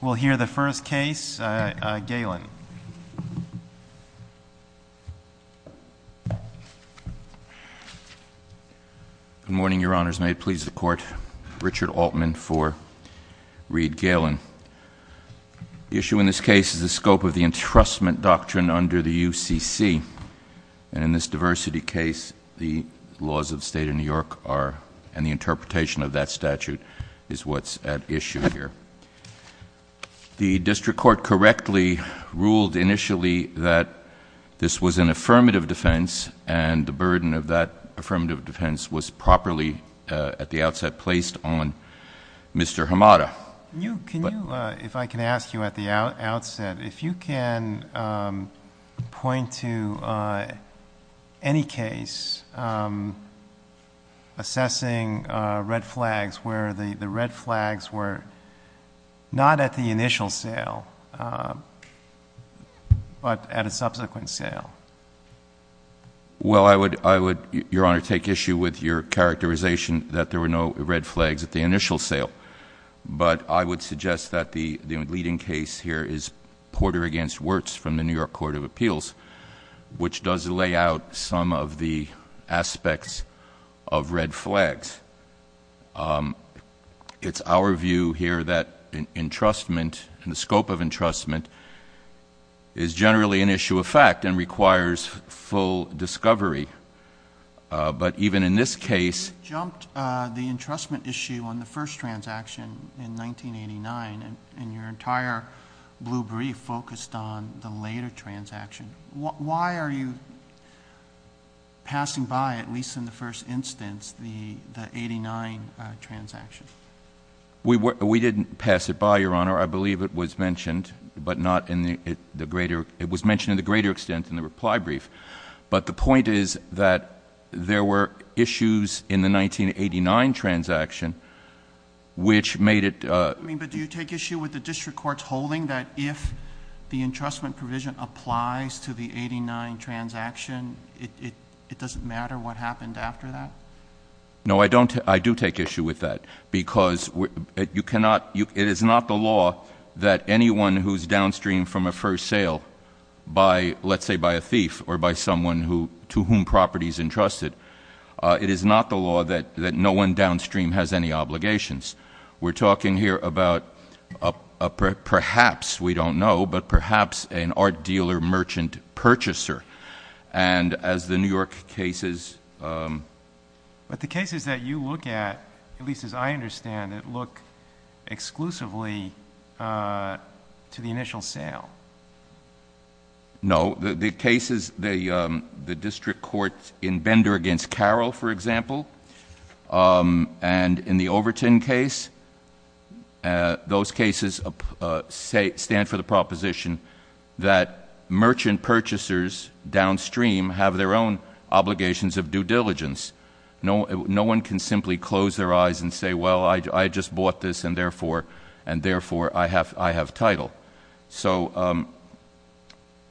We'll hear the first case, Galin. Good morning, Your Honors. May it please the Court, Richard Altman for Reed-Galin. The issue in this case is the scope of the entrustment doctrine under the UCC, and in this diversity case, the laws of the State of New York are, and the interpretation of that statute is what's at issue here. The district court correctly ruled initially that this was an affirmative defense, and the burden of that affirmative defense was properly, at the outset, placed on Mr. Hamada. Can you, if I can ask you at the outset, if you can point to any case assessing red flags where the red flags were not at the initial sale, but at a subsequent sale? Well, I would, Your Honor, take issue with your characterization that there were no red flags at the initial sale. But I would suggest that the leading case here is Porter v. Wirtz from the New York Court of Appeals, which does lay out some of the aspects of red flags. It's our view here that entrustment, the scope of entrustment, is generally an issue of fact and requires full discovery. But even in this case — You jumped the entrustment issue on the first transaction in 1989, and your entire blue brief focused on the later transaction. Why are you passing by, at least in the first instance, the 89 transaction? We didn't pass it by, Your Honor. I believe it was mentioned, but not in the greater — it was mentioned to a greater extent in the reply brief. But the point is that there were issues in the 1989 transaction which made it — I mean, but do you take issue with the district court's holding that if the entrustment provision applies to the 89 transaction, it doesn't matter what happened after that? No, I don't. I do take issue with that because you cannot — It is not the law that anyone who's downstream from a first sale by, let's say, by a thief or by someone to whom property is entrusted, it is not the law that no one downstream has any obligations. We're talking here about, perhaps, we don't know, but perhaps an art dealer merchant purchaser. And as the New York cases — to the initial sale. No. The cases — the district courts in Bender v. Carroll, for example, and in the Overton case, those cases stand for the proposition that merchant purchasers downstream have their own obligations of due diligence. No one can simply close their eyes and say, well, I just bought this, and therefore I have title. So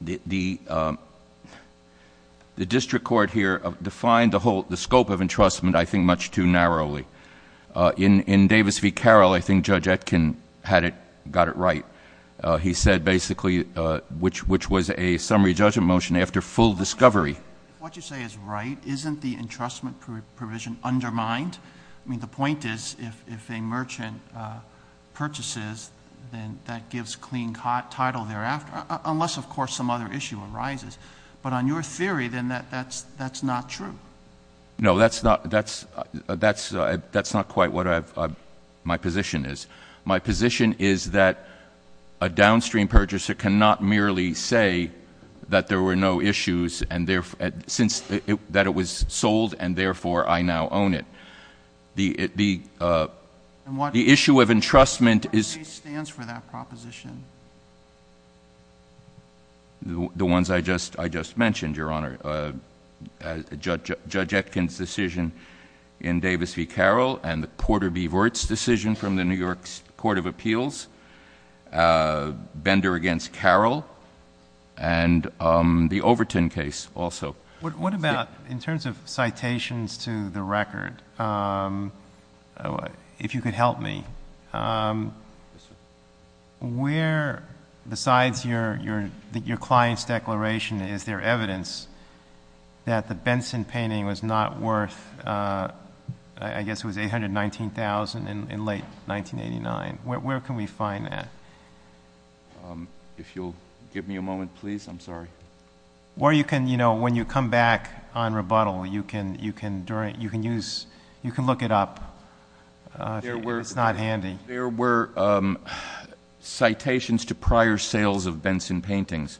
the district court here defined the scope of entrustment, I think, much too narrowly. In Davis v. Carroll, I think Judge Etkin had it — got it right. He said basically — which was a summary judgment motion after full discovery. If what you say is right, isn't the entrustment provision undermined? I mean, the point is if a merchant purchases, then that gives clean title thereafter, unless, of course, some other issue arises. But on your theory, then that's not true. No, that's not — that's not quite what my position is. My position is that a downstream purchaser cannot merely say that there were no issues and therefore — since — that it was sold, and therefore I now own it. The issue of entrustment is — And what case stands for that proposition? The ones I just mentioned, Your Honor. Judge Etkin's decision in Davis v. Carroll and the Porter v. Wirtz decision from the New York Court of Appeals, Bender against Carroll, and the Overton case also. What about — in terms of citations to the record, if you could help me, where, besides your client's declaration, is there evidence that the Benson painting was not worth — I guess it was $819,000 in late 1989. Where can we find that? If you'll give me a moment, please. I'm sorry. Or you can, you know, when you come back on rebuttal, you can look it up. It's not handy. There were citations to prior sales of Benson paintings,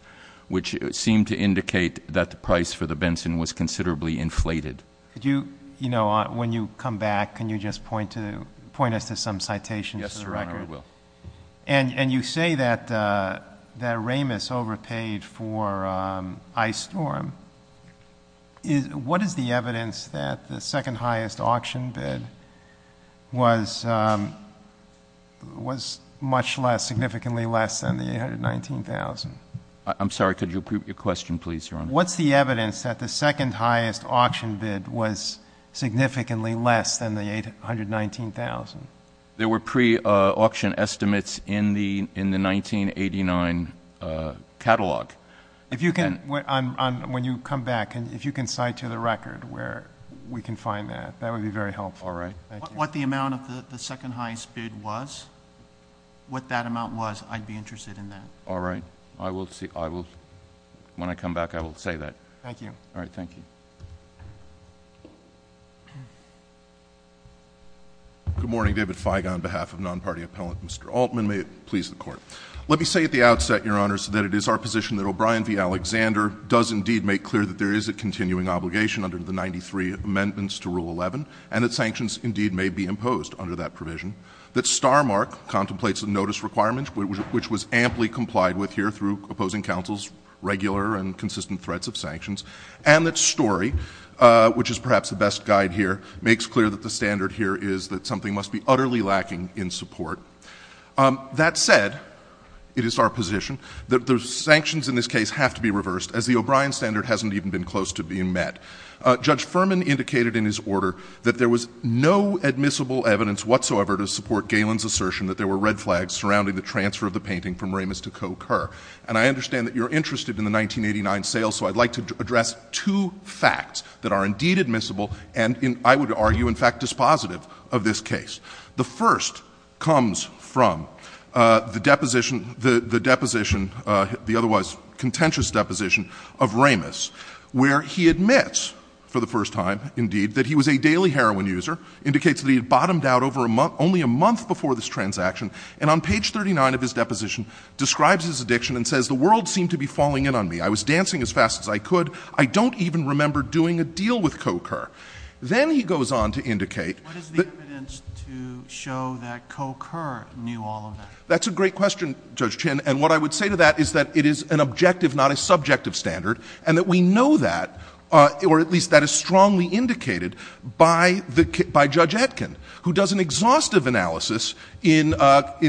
which seemed to indicate that the price for the Benson was considerably inflated. Could you, you know, when you come back, can you just point us to some citations to the record? Yes, Your Honor, I will. And you say that Ramos overpaid for Ice Storm. What is the evidence that the second-highest auction bid was much less, significantly less than the $819,000? I'm sorry. Could you repeat your question, please, Your Honor? What's the evidence that the second-highest auction bid was significantly less than the $819,000? There were pre-auction estimates in the 1989 catalog. If you can, when you come back, if you can cite to the record where we can find that, that would be very helpful. All right. What the amount of the second-highest bid was, what that amount was, I'd be interested in that. All right. I will see. When I come back, I will say that. Thank you. All right. Thank you. Good morning. David Feig on behalf of non-party appellant Mr. Altman. May it please the Court. Let me say at the outset, Your Honor, that it is our position that O'Brien v. Alexander does indeed make clear that there is a continuing obligation under the 93 amendments to Rule 11, and that sanctions indeed may be imposed under that provision. That Starmark contemplates a notice requirement, which was amply complied with here through opposing counsel's regular and consistent threats of sanctions. And that Story, which is perhaps the best guide here, makes clear that the standard here is that something must be utterly lacking in support. That said, it is our position that the sanctions in this case have to be reversed, as the O'Brien standard hasn't even been close to being met. Judge Furman indicated in his order that there was no admissible evidence whatsoever to support Galen's assertion that there were red flags surrounding the transfer of the painting from Ramis to Coe Kerr. And I understand that you're interested in the 1989 sale, so I'd like to address two facts that are indeed admissible and, I would argue, in fact, dispositive of this case. The first comes from the deposition, the deposition, the otherwise contentious deposition of Ramis, where he admits for the first time indeed that he was a daily heroin user, indicates that he had bottomed out only a month before this transaction, and on page 39 of his deposition, describes his addiction and says the world seemed to be falling in on me. I was dancing as fast as I could. I don't even remember doing a deal with Coe Kerr. Then he goes on to indicate that— What is the evidence to show that Coe Kerr knew all of that? That's a great question, Judge Chin, and what I would say to that is that it is an objective, not a subjective standard, and that we know that, or at least that is strongly indicated by Judge Etkin, who does an exhaustive analysis in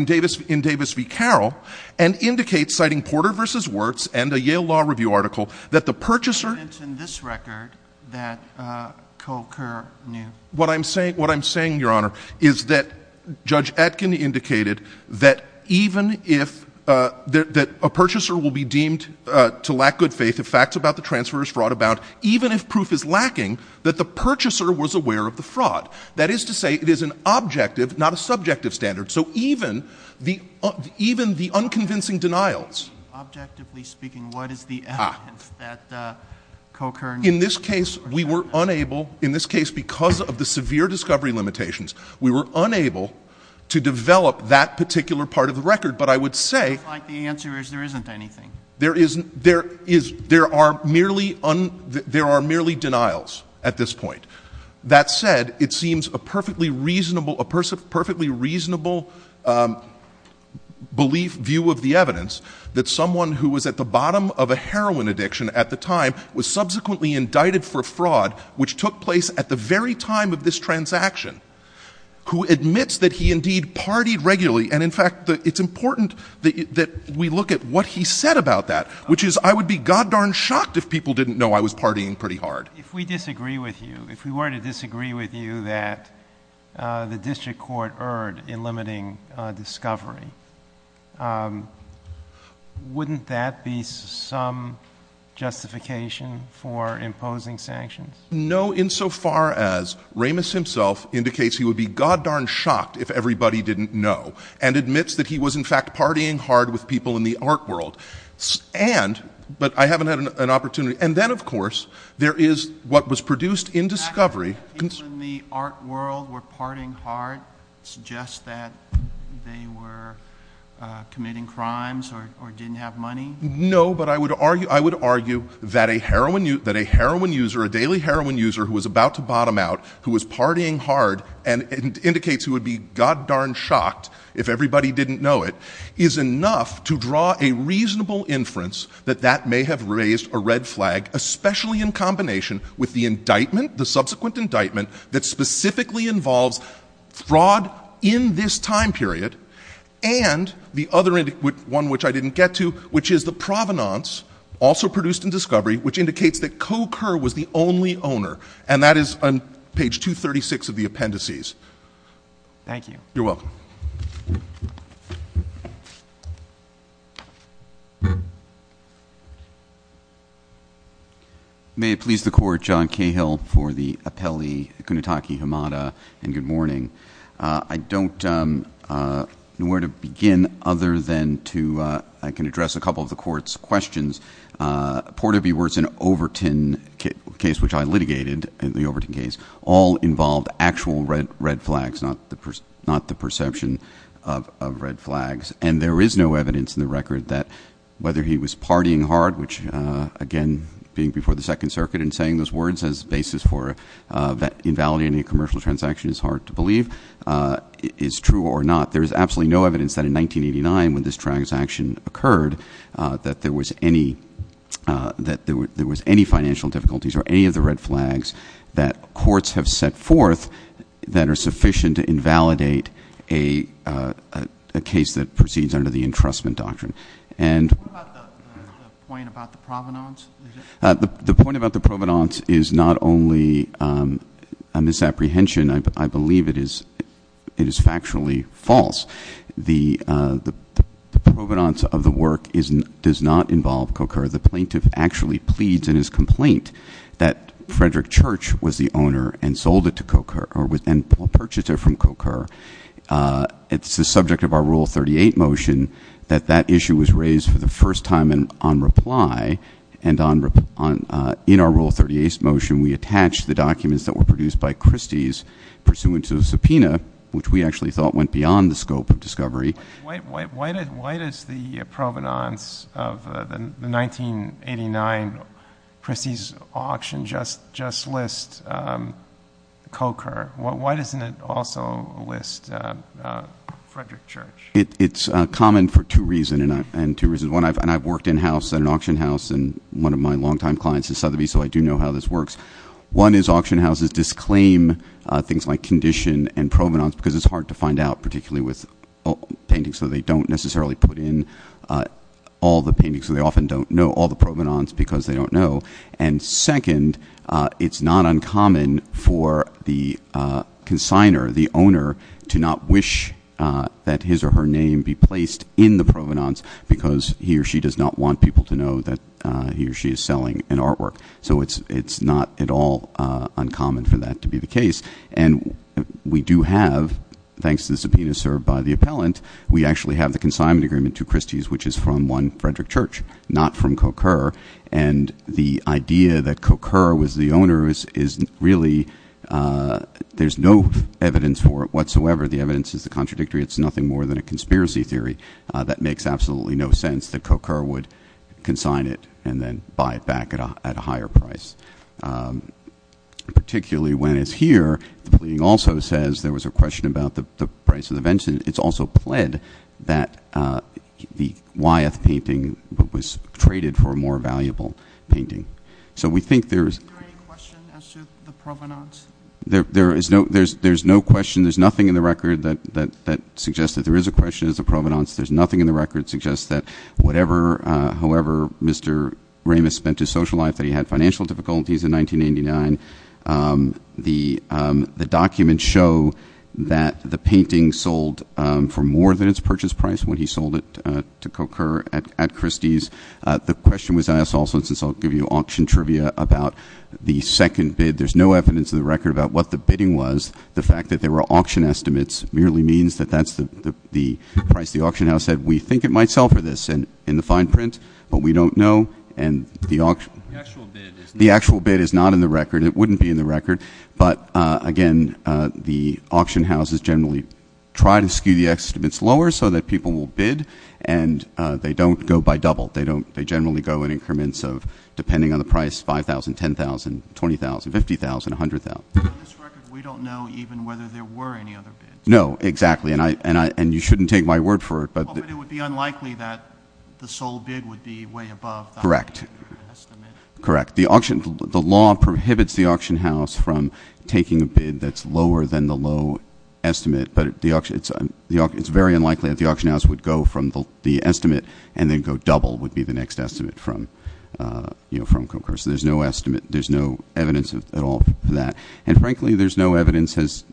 Davis v. Carroll and indicates, citing Porter v. Wirtz and a Yale Law Review article, that the purchaser— What I'm saying, Your Honor, is that Judge Etkin indicated that even if—that a purchaser will be deemed to lack good faith if facts about the transfer is fraught about, even if proof is lacking, that the purchaser was aware of the fraud. That is to say, it is an objective, not a subjective standard. So even the unconvincing denials— Objectively speaking, what is the evidence that Coe Kerr— In this case, we were unable—in this case, because of the severe discovery limitations, we were unable to develop that particular part of the record, but I would say— It looks like the answer is there isn't anything. There isn't—there is—there are merely—there are merely denials at this point. That said, it seems a perfectly reasonable—a perfectly reasonable belief, view of the evidence, that someone who was at the bottom of a heroin addiction at the time was subsequently indicted for fraud, which took place at the very time of this transaction, who admits that he indeed partied regularly, and in fact, it's important that we look at what he said about that, which is I would be goddarn shocked if people didn't know I was partying pretty hard. But if we disagree with you, if we were to disagree with you that the district court erred in limiting discovery, wouldn't that be some justification for imposing sanctions? No, insofar as Ramis himself indicates he would be goddarn shocked if everybody didn't know, and admits that he was, in fact, partying hard with people in the art world, and— In fact, people in the art world were partying hard. It suggests that they were committing crimes or didn't have money. No, but I would argue that a heroin user, a daily heroin user who was about to bottom out, who was partying hard and indicates he would be goddarn shocked if everybody didn't know it, is enough to draw a reasonable inference that that may have raised a red flag, especially in combination with the subsequent indictment that specifically involves fraud in this time period and the other one which I didn't get to, which is the provenance, also produced in discovery, which indicates that Coker was the only owner, and that is on page 236 of the appendices. Thank you. You're welcome. May it please the Court, John Cahill for the appellee, Kunetake Hamada, and good morning. I don't know where to begin other than to—I can address a couple of the Court's questions. Porter B. Wertz and Overton case, which I litigated, the Overton case, all involved actual red flags, not the perception of red flags, and there is no evidence in the record that whether he was partying hard, which again being before the Second Circuit and saying those words as a basis for invalidating a commercial transaction is hard to believe, is true or not. There is absolutely no evidence that in 1989 when this transaction occurred that there was any financial difficulties or any of the red flags that courts have set forth that are sufficient to invalidate a case that proceeds under the entrustment doctrine. What about the point about the provenance? The point about the provenance is not only a misapprehension. I believe it is factually false. The provenance of the work does not involve Coker. The plaintiff actually pleads in his complaint that Frederick Church was the owner and sold it to Coker and purchased it from Coker. It's the subject of our Rule 38 motion that that issue was raised for the first time on reply, and in our Rule 38 motion we attached the documents that were produced by Christie's pursuant to a subpoena, which we actually thought went beyond the scope of discovery. Why does the provenance of the 1989 Christie's auction just list Coker? Why doesn't it also list Frederick Church? It's common for two reasons, and I've worked in-house at an auction house, and one of my longtime clients is Sotheby's, so I do know how this works. One is auction houses disclaim things like condition and provenance because it's hard to find out, particularly with paintings, so they don't necessarily put in all the paintings, so they often don't know all the provenance because they don't know. And second, it's not uncommon for the consigner, the owner, to not wish that his or her name be placed in the provenance because he or she does not want people to know that he or she is selling an artwork, so it's not at all uncommon for that to be the case. And we do have, thanks to the subpoena served by the appellant, we actually have the consignment agreement to Christie's, which is from one Frederick Church, not from Coker, and the idea that Coker was the owner is really, there's no evidence for it whatsoever. The evidence is the contradictory, it's nothing more than a conspiracy theory that makes absolutely no sense that Coker would consign it and then buy it back at a higher price. Particularly when it's here, the pleading also says there was a question about the price of the vengeance. It's also pled that the Wyeth painting was traded for a more valuable painting. So we think there is... Is there any question as to the provenance? There is no question. There's nothing in the record that suggests that there is a question as to provenance. There's nothing in the record that suggests that however Mr. Ramis spent his social life, that he had financial difficulties in 1989. The documents show that the painting sold for more than its purchase price when he sold it to Coker at Christie's. The question was asked also, since I'll give you auction trivia, about the second bid. There's no evidence in the record about what the bidding was. The fact that there were auction estimates merely means that that's the price the auction house said, we think it might sell for this in the fine print, but we don't know. The actual bid is not in the record. It wouldn't be in the record. But, again, the auction houses generally try to skew the estimates lower so that people will bid, and they don't go by double. They generally go in increments of, depending on the price, 5,000, 10,000, 20,000, 50,000, 100,000. We don't know even whether there were any other bids. No, exactly. And you shouldn't take my word for it. But it would be unlikely that the sole bid would be way above that estimate. Correct. Correct. The law prohibits the auction house from taking a bid that's lower than the low estimate, but it's very unlikely that the auction house would go from the estimate and then go double would be the next estimate from Coker. So there's no estimate. There's no evidence at all for that. And, frankly, there's no evidence, as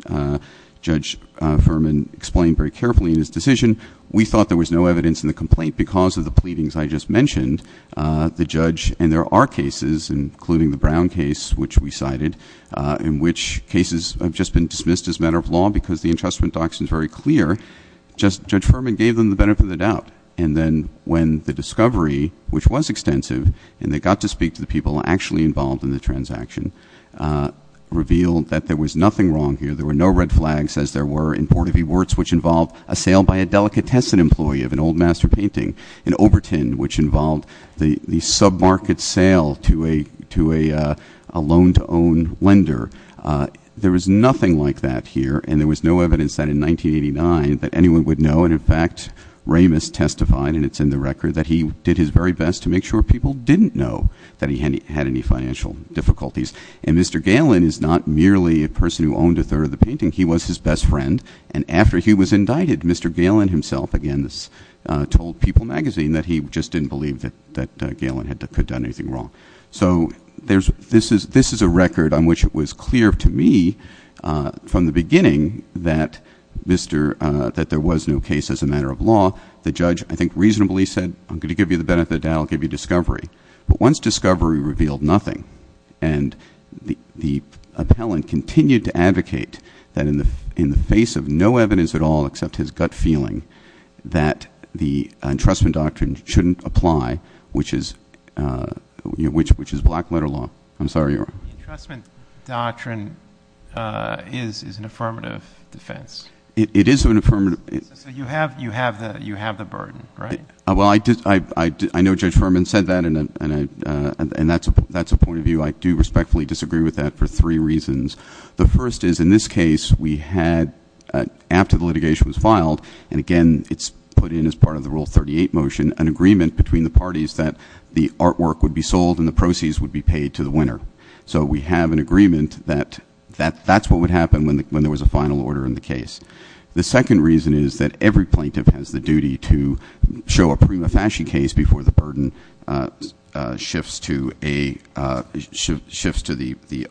Judge Furman explained very carefully in his decision. We thought there was no evidence in the complaint because of the pleadings I just mentioned. The judge, and there are cases, including the Brown case, which we cited, in which cases have just been dismissed as a matter of law because the entrustment doctrine is very clear. And then when the discovery, which was extensive, and they got to speak to the people actually involved in the transaction, revealed that there was nothing wrong here. There were no red flags, as there were in Port of E. Wurtz, which involved a sale by a delicatessen employee of an old master painting, in Overton, which involved the sub-market sale to a loan-to-own lender. There was nothing like that here, and there was no evidence that in 1989 that anyone would know. And, in fact, Ramis testified, and it's in the record, that he did his very best to make sure people didn't know that he had any financial difficulties. And Mr. Galen is not merely a person who owned a third of the painting. He was his best friend. And after he was indicted, Mr. Galen himself, again, told People magazine that he just didn't believe that Galen could have done anything wrong. So this is a record on which it was clear to me from the beginning that there was no case as a matter of law. The judge, I think, reasonably said, I'm going to give you the benefit of the doubt. I'll give you discovery. But once discovery revealed nothing, and the appellant continued to advocate that in the face of no evidence at all, that the entrustment doctrine shouldn't apply, which is black letter law. I'm sorry, Your Honor. The entrustment doctrine is an affirmative defense. It is an affirmative. So you have the burden, right? Well, I know Judge Furman said that, and that's a point of view. I do respectfully disagree with that for three reasons. The first is, in this case, we had, after the litigation was filed, and again, it's put in as part of the Rule 38 motion, an agreement between the parties that the artwork would be sold and the proceeds would be paid to the winner. So we have an agreement that that's what would happen when there was a final order in the case. The second reason is that every plaintiff has the duty to show a prima facie case before the burden shifts to the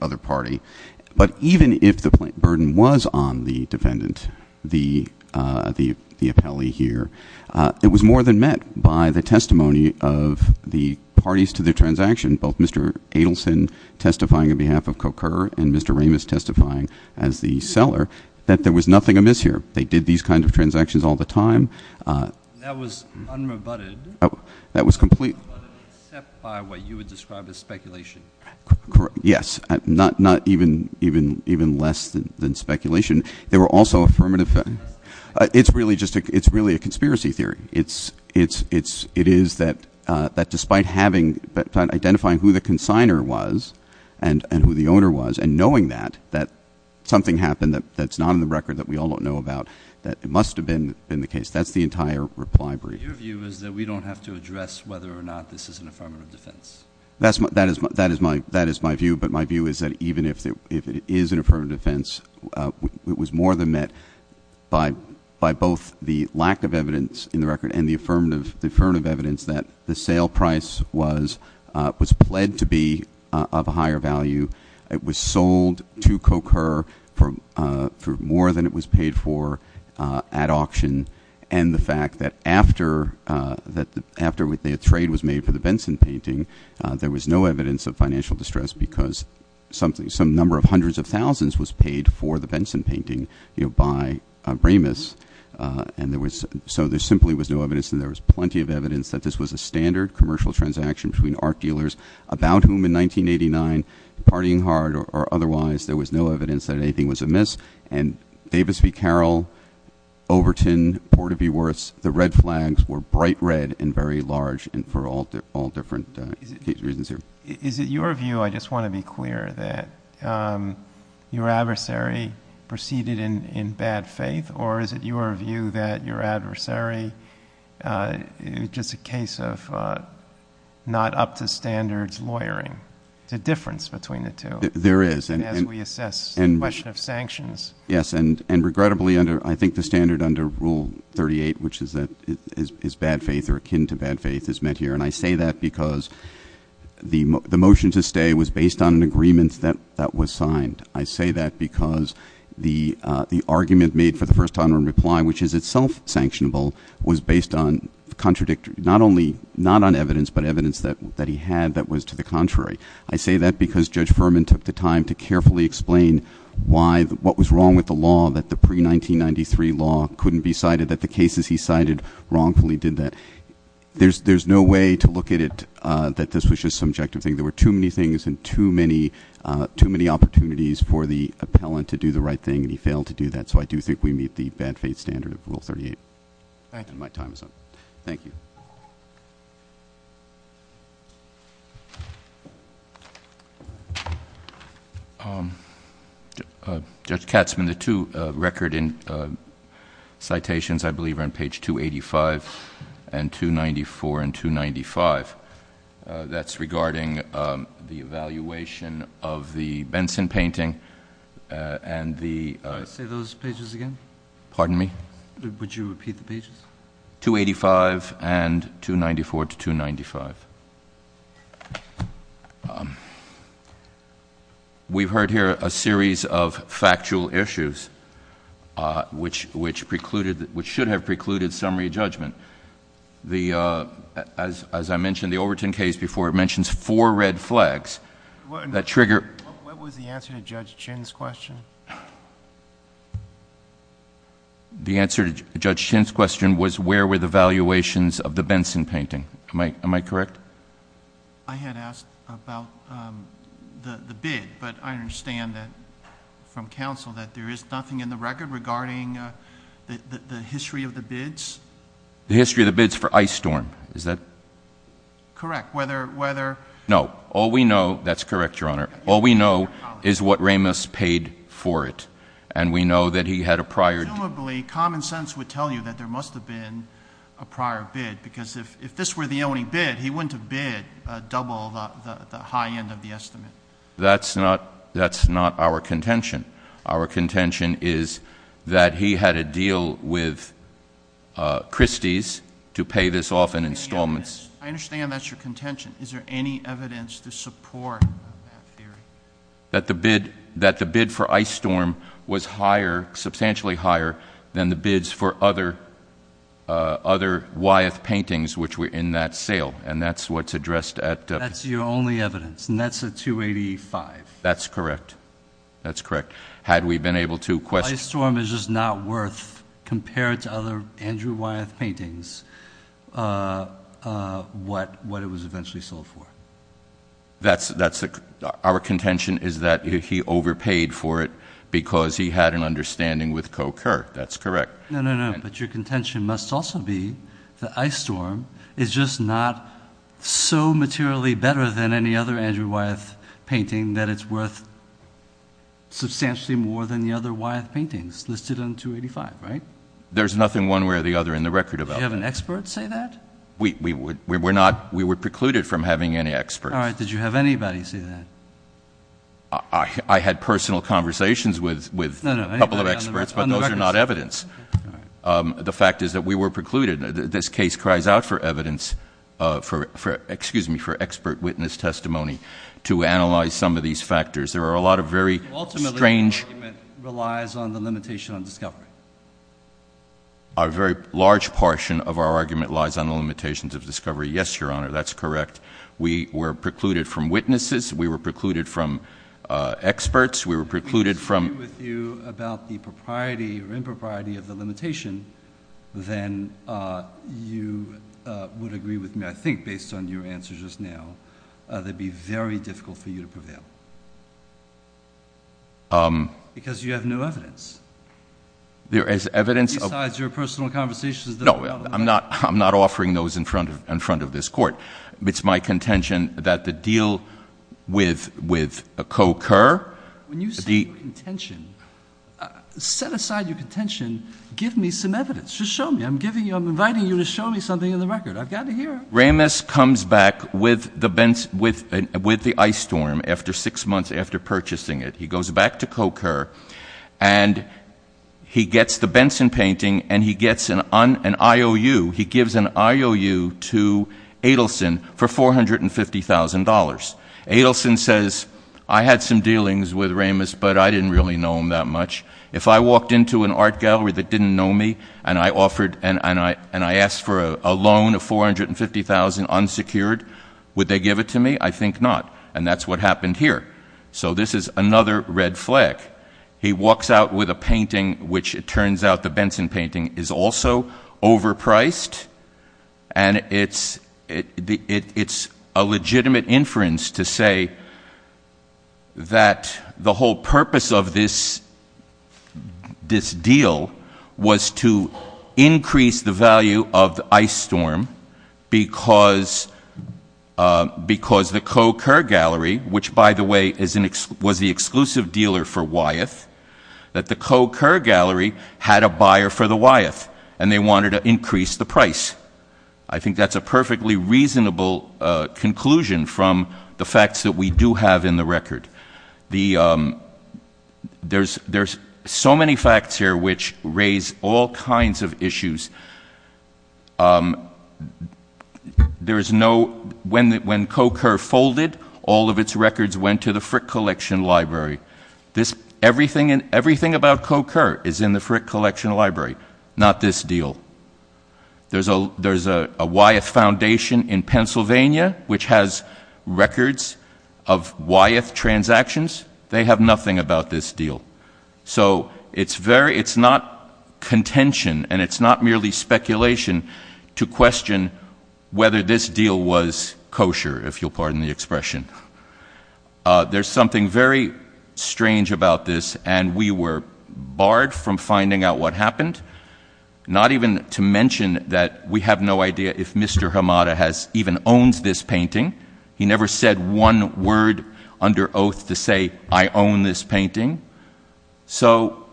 other party. But even if the burden was on the defendant, the appellee here, it was more than met by the testimony of the parties to the transaction, both Mr. Adelson testifying on behalf of Coker and Mr. Ramis testifying as the seller, that there was nothing amiss here. They did these kinds of transactions all the time. That was unrebutted. That was complete. Unrebutted, except by what you would describe as speculation. Yes, not even less than speculation. There were also affirmative. It's really a conspiracy theory. It is that despite identifying who the consigner was and who the owner was, and knowing that, that something happened that's not on the record, that we all don't know about, that it must have been in the case. That's the entire reply brief. Your view is that we don't have to address whether or not this is an affirmative defense? That is my view, but my view is that even if it is an affirmative defense, it was more than met by both the lack of evidence in the record and the affirmative evidence that the sale price was pled to be of a higher value. It was sold to Coker for more than it was paid for at auction. And the fact that after the trade was made for the Benson painting, there was no evidence of financial distress because some number of hundreds of thousands was paid for the Benson painting by Remus. So there simply was no evidence, and there was plenty of evidence, that this was a standard commercial transaction between art dealers about whom in 1989, partying hard or otherwise, there was no evidence that anything was amiss. And Davis v. Carroll, Overton, Porter v. Worth, the red flags were bright red and very large for all different reasons here. Is it your view, I just want to be clear, that your adversary proceeded in bad faith? Or is it your view that your adversary is just a case of not up to standards lawyering? There's a difference between the two. There is. As we assess the question of sanctions. Yes, and regrettably, I think the standard under Rule 38, which is bad faith or akin to bad faith, is met here. And I say that because the motion to stay was based on an agreement that was signed. I say that because the argument made for the first time in reply, which is itself sanctionable, was based not on evidence, but evidence that he had that was to the contrary. I say that because Judge Furman took the time to carefully explain what was wrong with the law, that the pre-1993 law couldn't be cited, that the cases he cited wrongfully did that. There's no way to look at it that this was just a subjective thing. There were too many things and too many opportunities for the appellant to do the right thing, and he failed to do that. So I do think we meet the bad faith standard of Rule 38. My time is up. Thank you. Judge Katzman, the two record citations, I believe, are on page 285 and 294 and 295. That's regarding the evaluation of the Benson painting and the- Say those pages again. Pardon me? Would you repeat the pages? 285 and 294 to 295. We've heard here a series of factual issues which should have precluded summary judgment. As I mentioned, the Overton case before mentions four red flags that trigger- What was the answer to Judge Chin's question? The answer to Judge Chin's question was where were the valuations of the Benson painting. Am I correct? I had asked about the bid, but I understand from counsel that there is nothing in the record regarding the history of the bids. The history of the bids for Ice Storm, is that- Correct. Whether- No. All we know- That's correct, Your Honor. All we know is what Ramos paid for it, and we know that he had a prior- Presumably, common sense would tell you that there must have been a prior bid, because if this were the only bid, he wouldn't have bid double the high end of the estimate. That's not our contention. Our contention is that he had a deal with Christie's to pay this off in installments. I understand that's your contention. Is there any evidence to support that theory? That the bid for Ice Storm was higher, substantially higher, than the bids for other Wyeth paintings which were in that sale, and that's what's addressed at- That's your only evidence, and that's a 285. That's correct. That's correct. Had we been able to- Ice Storm is just not worth, compared to other Andrew Wyeth paintings, what it was eventually sold for. Our contention is that he overpaid for it because he had an understanding with Coe Kerr. That's correct. No, no, no, but your contention must also be that Ice Storm is just not so materially better than any other Andrew Wyeth painting that it's worth substantially more than the other Wyeth paintings listed on 285, right? There's nothing one way or the other in the record of- Did you have an expert say that? We were precluded from having any experts. All right. Did you have anybody say that? I had personal conversations with a couple of experts, but those are not evidence. The fact is that we were precluded. This case cries out for evidence, for expert witness testimony to analyze some of these factors. There are a lot of very strange- Ultimately, the argument relies on the limitation on discovery. A very large portion of our argument lies on the limitations of discovery. Yes, Your Honor, that's correct. We were precluded from witnesses. We were precluded from experts. We were precluded from- If we disagree with you about the propriety or impropriety of the limitation, then you would agree with me, I think, based on your answer just now, that it would be very difficult for you to prevail. Because you have no evidence. There is evidence- Besides your personal conversations that- No, I'm not offering those in front of this court. It's my contention that the deal with Coe Kerr- When you say contention, set aside your contention, give me some evidence. Just show me. I'm inviting you to show me something in the record. I've got to hear it. Ramis comes back with the ice storm six months after purchasing it. He goes back to Coe Kerr, and he gets the Benson painting, and he gets an IOU. He gives an IOU to Adelson for $450,000. Adelson says, I had some dealings with Ramis, but I didn't really know him that much. If I walked into an art gallery that didn't know me, and I asked for a loan of $450,000 unsecured, would they give it to me? I think not, and that's what happened here. So this is another red flag. He walks out with a painting which, it turns out, the Benson painting is also overpriced. It's a legitimate inference to say that the whole purpose of this deal was to increase the value of the ice storm, because the Coe Kerr gallery, which by the way was the exclusive dealer for Wyeth, that the Coe Kerr gallery had a buyer for the Wyeth, and they wanted to increase the price. I think that's a perfectly reasonable conclusion from the facts that we do have in the record. There's so many facts here which raise all kinds of issues. When Coe Kerr folded, all of its records went to the Frick Collection Library. Everything about Coe Kerr is in the Frick Collection Library, not this deal. There's a Wyeth Foundation in Pennsylvania which has records of Wyeth transactions. They have nothing about this deal. So it's not contention, and it's not merely speculation to question whether this deal was kosher, if you'll pardon the expression. There's something very strange about this, and we were barred from finding out what happened, not even to mention that we have no idea if Mr. Hamada even owns this painting. He never said one word under oath to say, I own this painting. So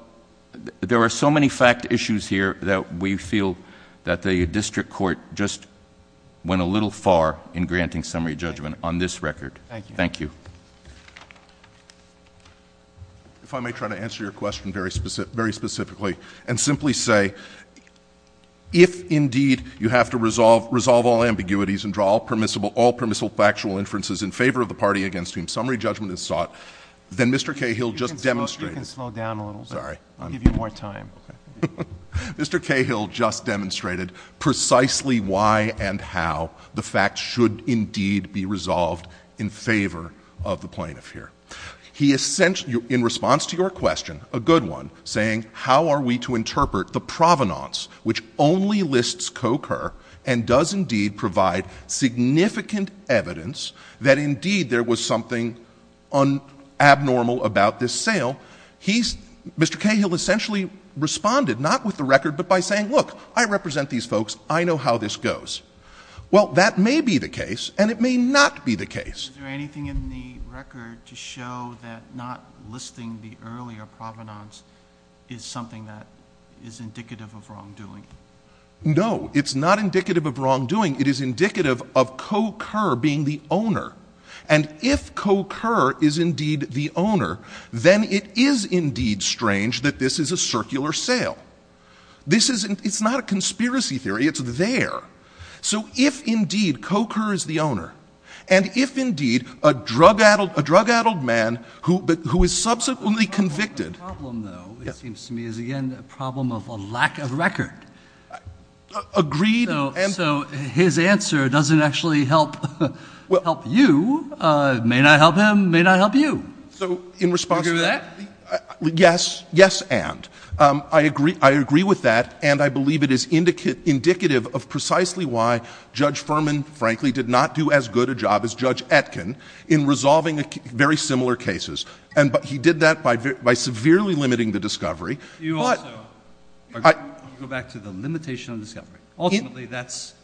there are so many fact issues here that we feel that the district court just went a little far in granting summary judgment on this record. Thank you. If I may try to answer your question very specifically and simply say, if indeed you have to resolve all ambiguities and draw all permissible factual inferences in favor of the party against whom summary judgment is sought, then Mr. Cahill just demonstrated— You can slow down a little bit. Sorry. I'll give you more time. Okay. Mr. Cahill just demonstrated precisely why and how the facts should indeed be resolved in favor of the plaintiff here. He essentially, in response to your question, a good one, saying, how are we to interpret the provenance which only lists co-occur and does indeed provide significant evidence that indeed there was something abnormal about this sale? He's—Mr. Cahill essentially responded, not with the record, but by saying, look, I represent these folks. I know how this goes. Well, that may be the case, and it may not be the case. Is there anything in the record to show that not listing the earlier provenance is something that is indicative of wrongdoing? No. It's not indicative of wrongdoing. It is indicative of co-occur being the owner, and if co-occur is indeed the owner, then it is indeed strange that this is a circular sale. This is—it's not a conspiracy theory. It's there. So if indeed co-occur is the owner, and if indeed a drug-addled man who is subsequently convicted— The problem, though, it seems to me, is again a problem of a lack of record. Agreed, and— So his answer doesn't actually help you. It may not help him. It may not help you. So in response to that— Do you agree with that? Yes. Yes, and. I agree with that, and I believe it is indicative of precisely why Judge Furman, frankly, did not do as good a job as Judge Etkin in resolving very similar cases. And he did that by severely limiting the discovery, but— You also— I— Go back to the limitation of discovery. Ultimately, that's—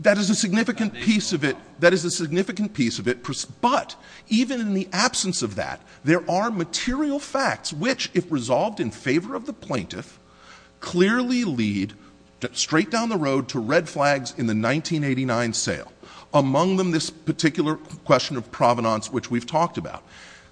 That is a significant piece of it. That is a significant piece of it. But even in the absence of that, there are material facts which, if resolved in favor of the plaintiff, clearly lead straight down the road to red flags in the 1989 sale, among them this particular question of provenance which we've talked about.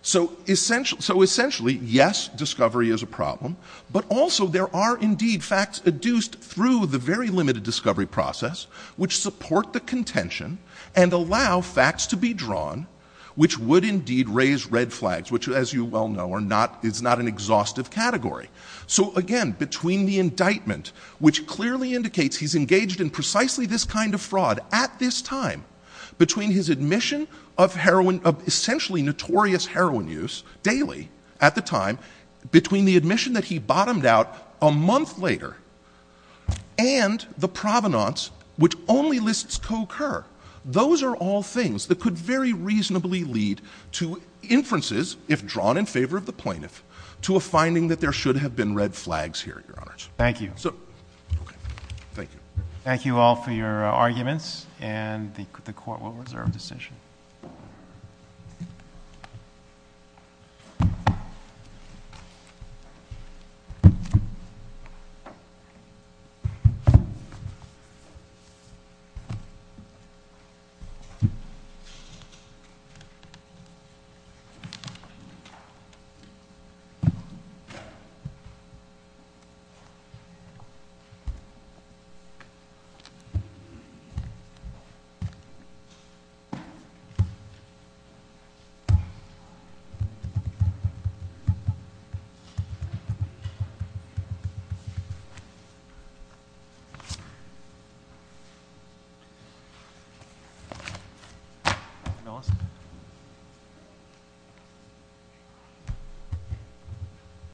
So essentially, yes, discovery is a problem, but also there are indeed facts adduced through the very limited discovery process which support the contention and allow facts to be drawn which would indeed raise red flags, which, as you well know, are not—is not an exhaustive category. So again, between the indictment, which clearly indicates he's engaged in precisely this kind of fraud at this time, between his admission of heroin—of essentially notorious heroin use daily at the time, between the admission that he bottomed out a month later, and the provenance, which only lists co-occur, those are all things that could very reasonably lead to inferences, if drawn in favor of the plaintiff, to a finding that there should have been red flags here, Your Honors. So—okay. Thank you. Thank you all for your arguments, and the Court will reserve decision. Thank you.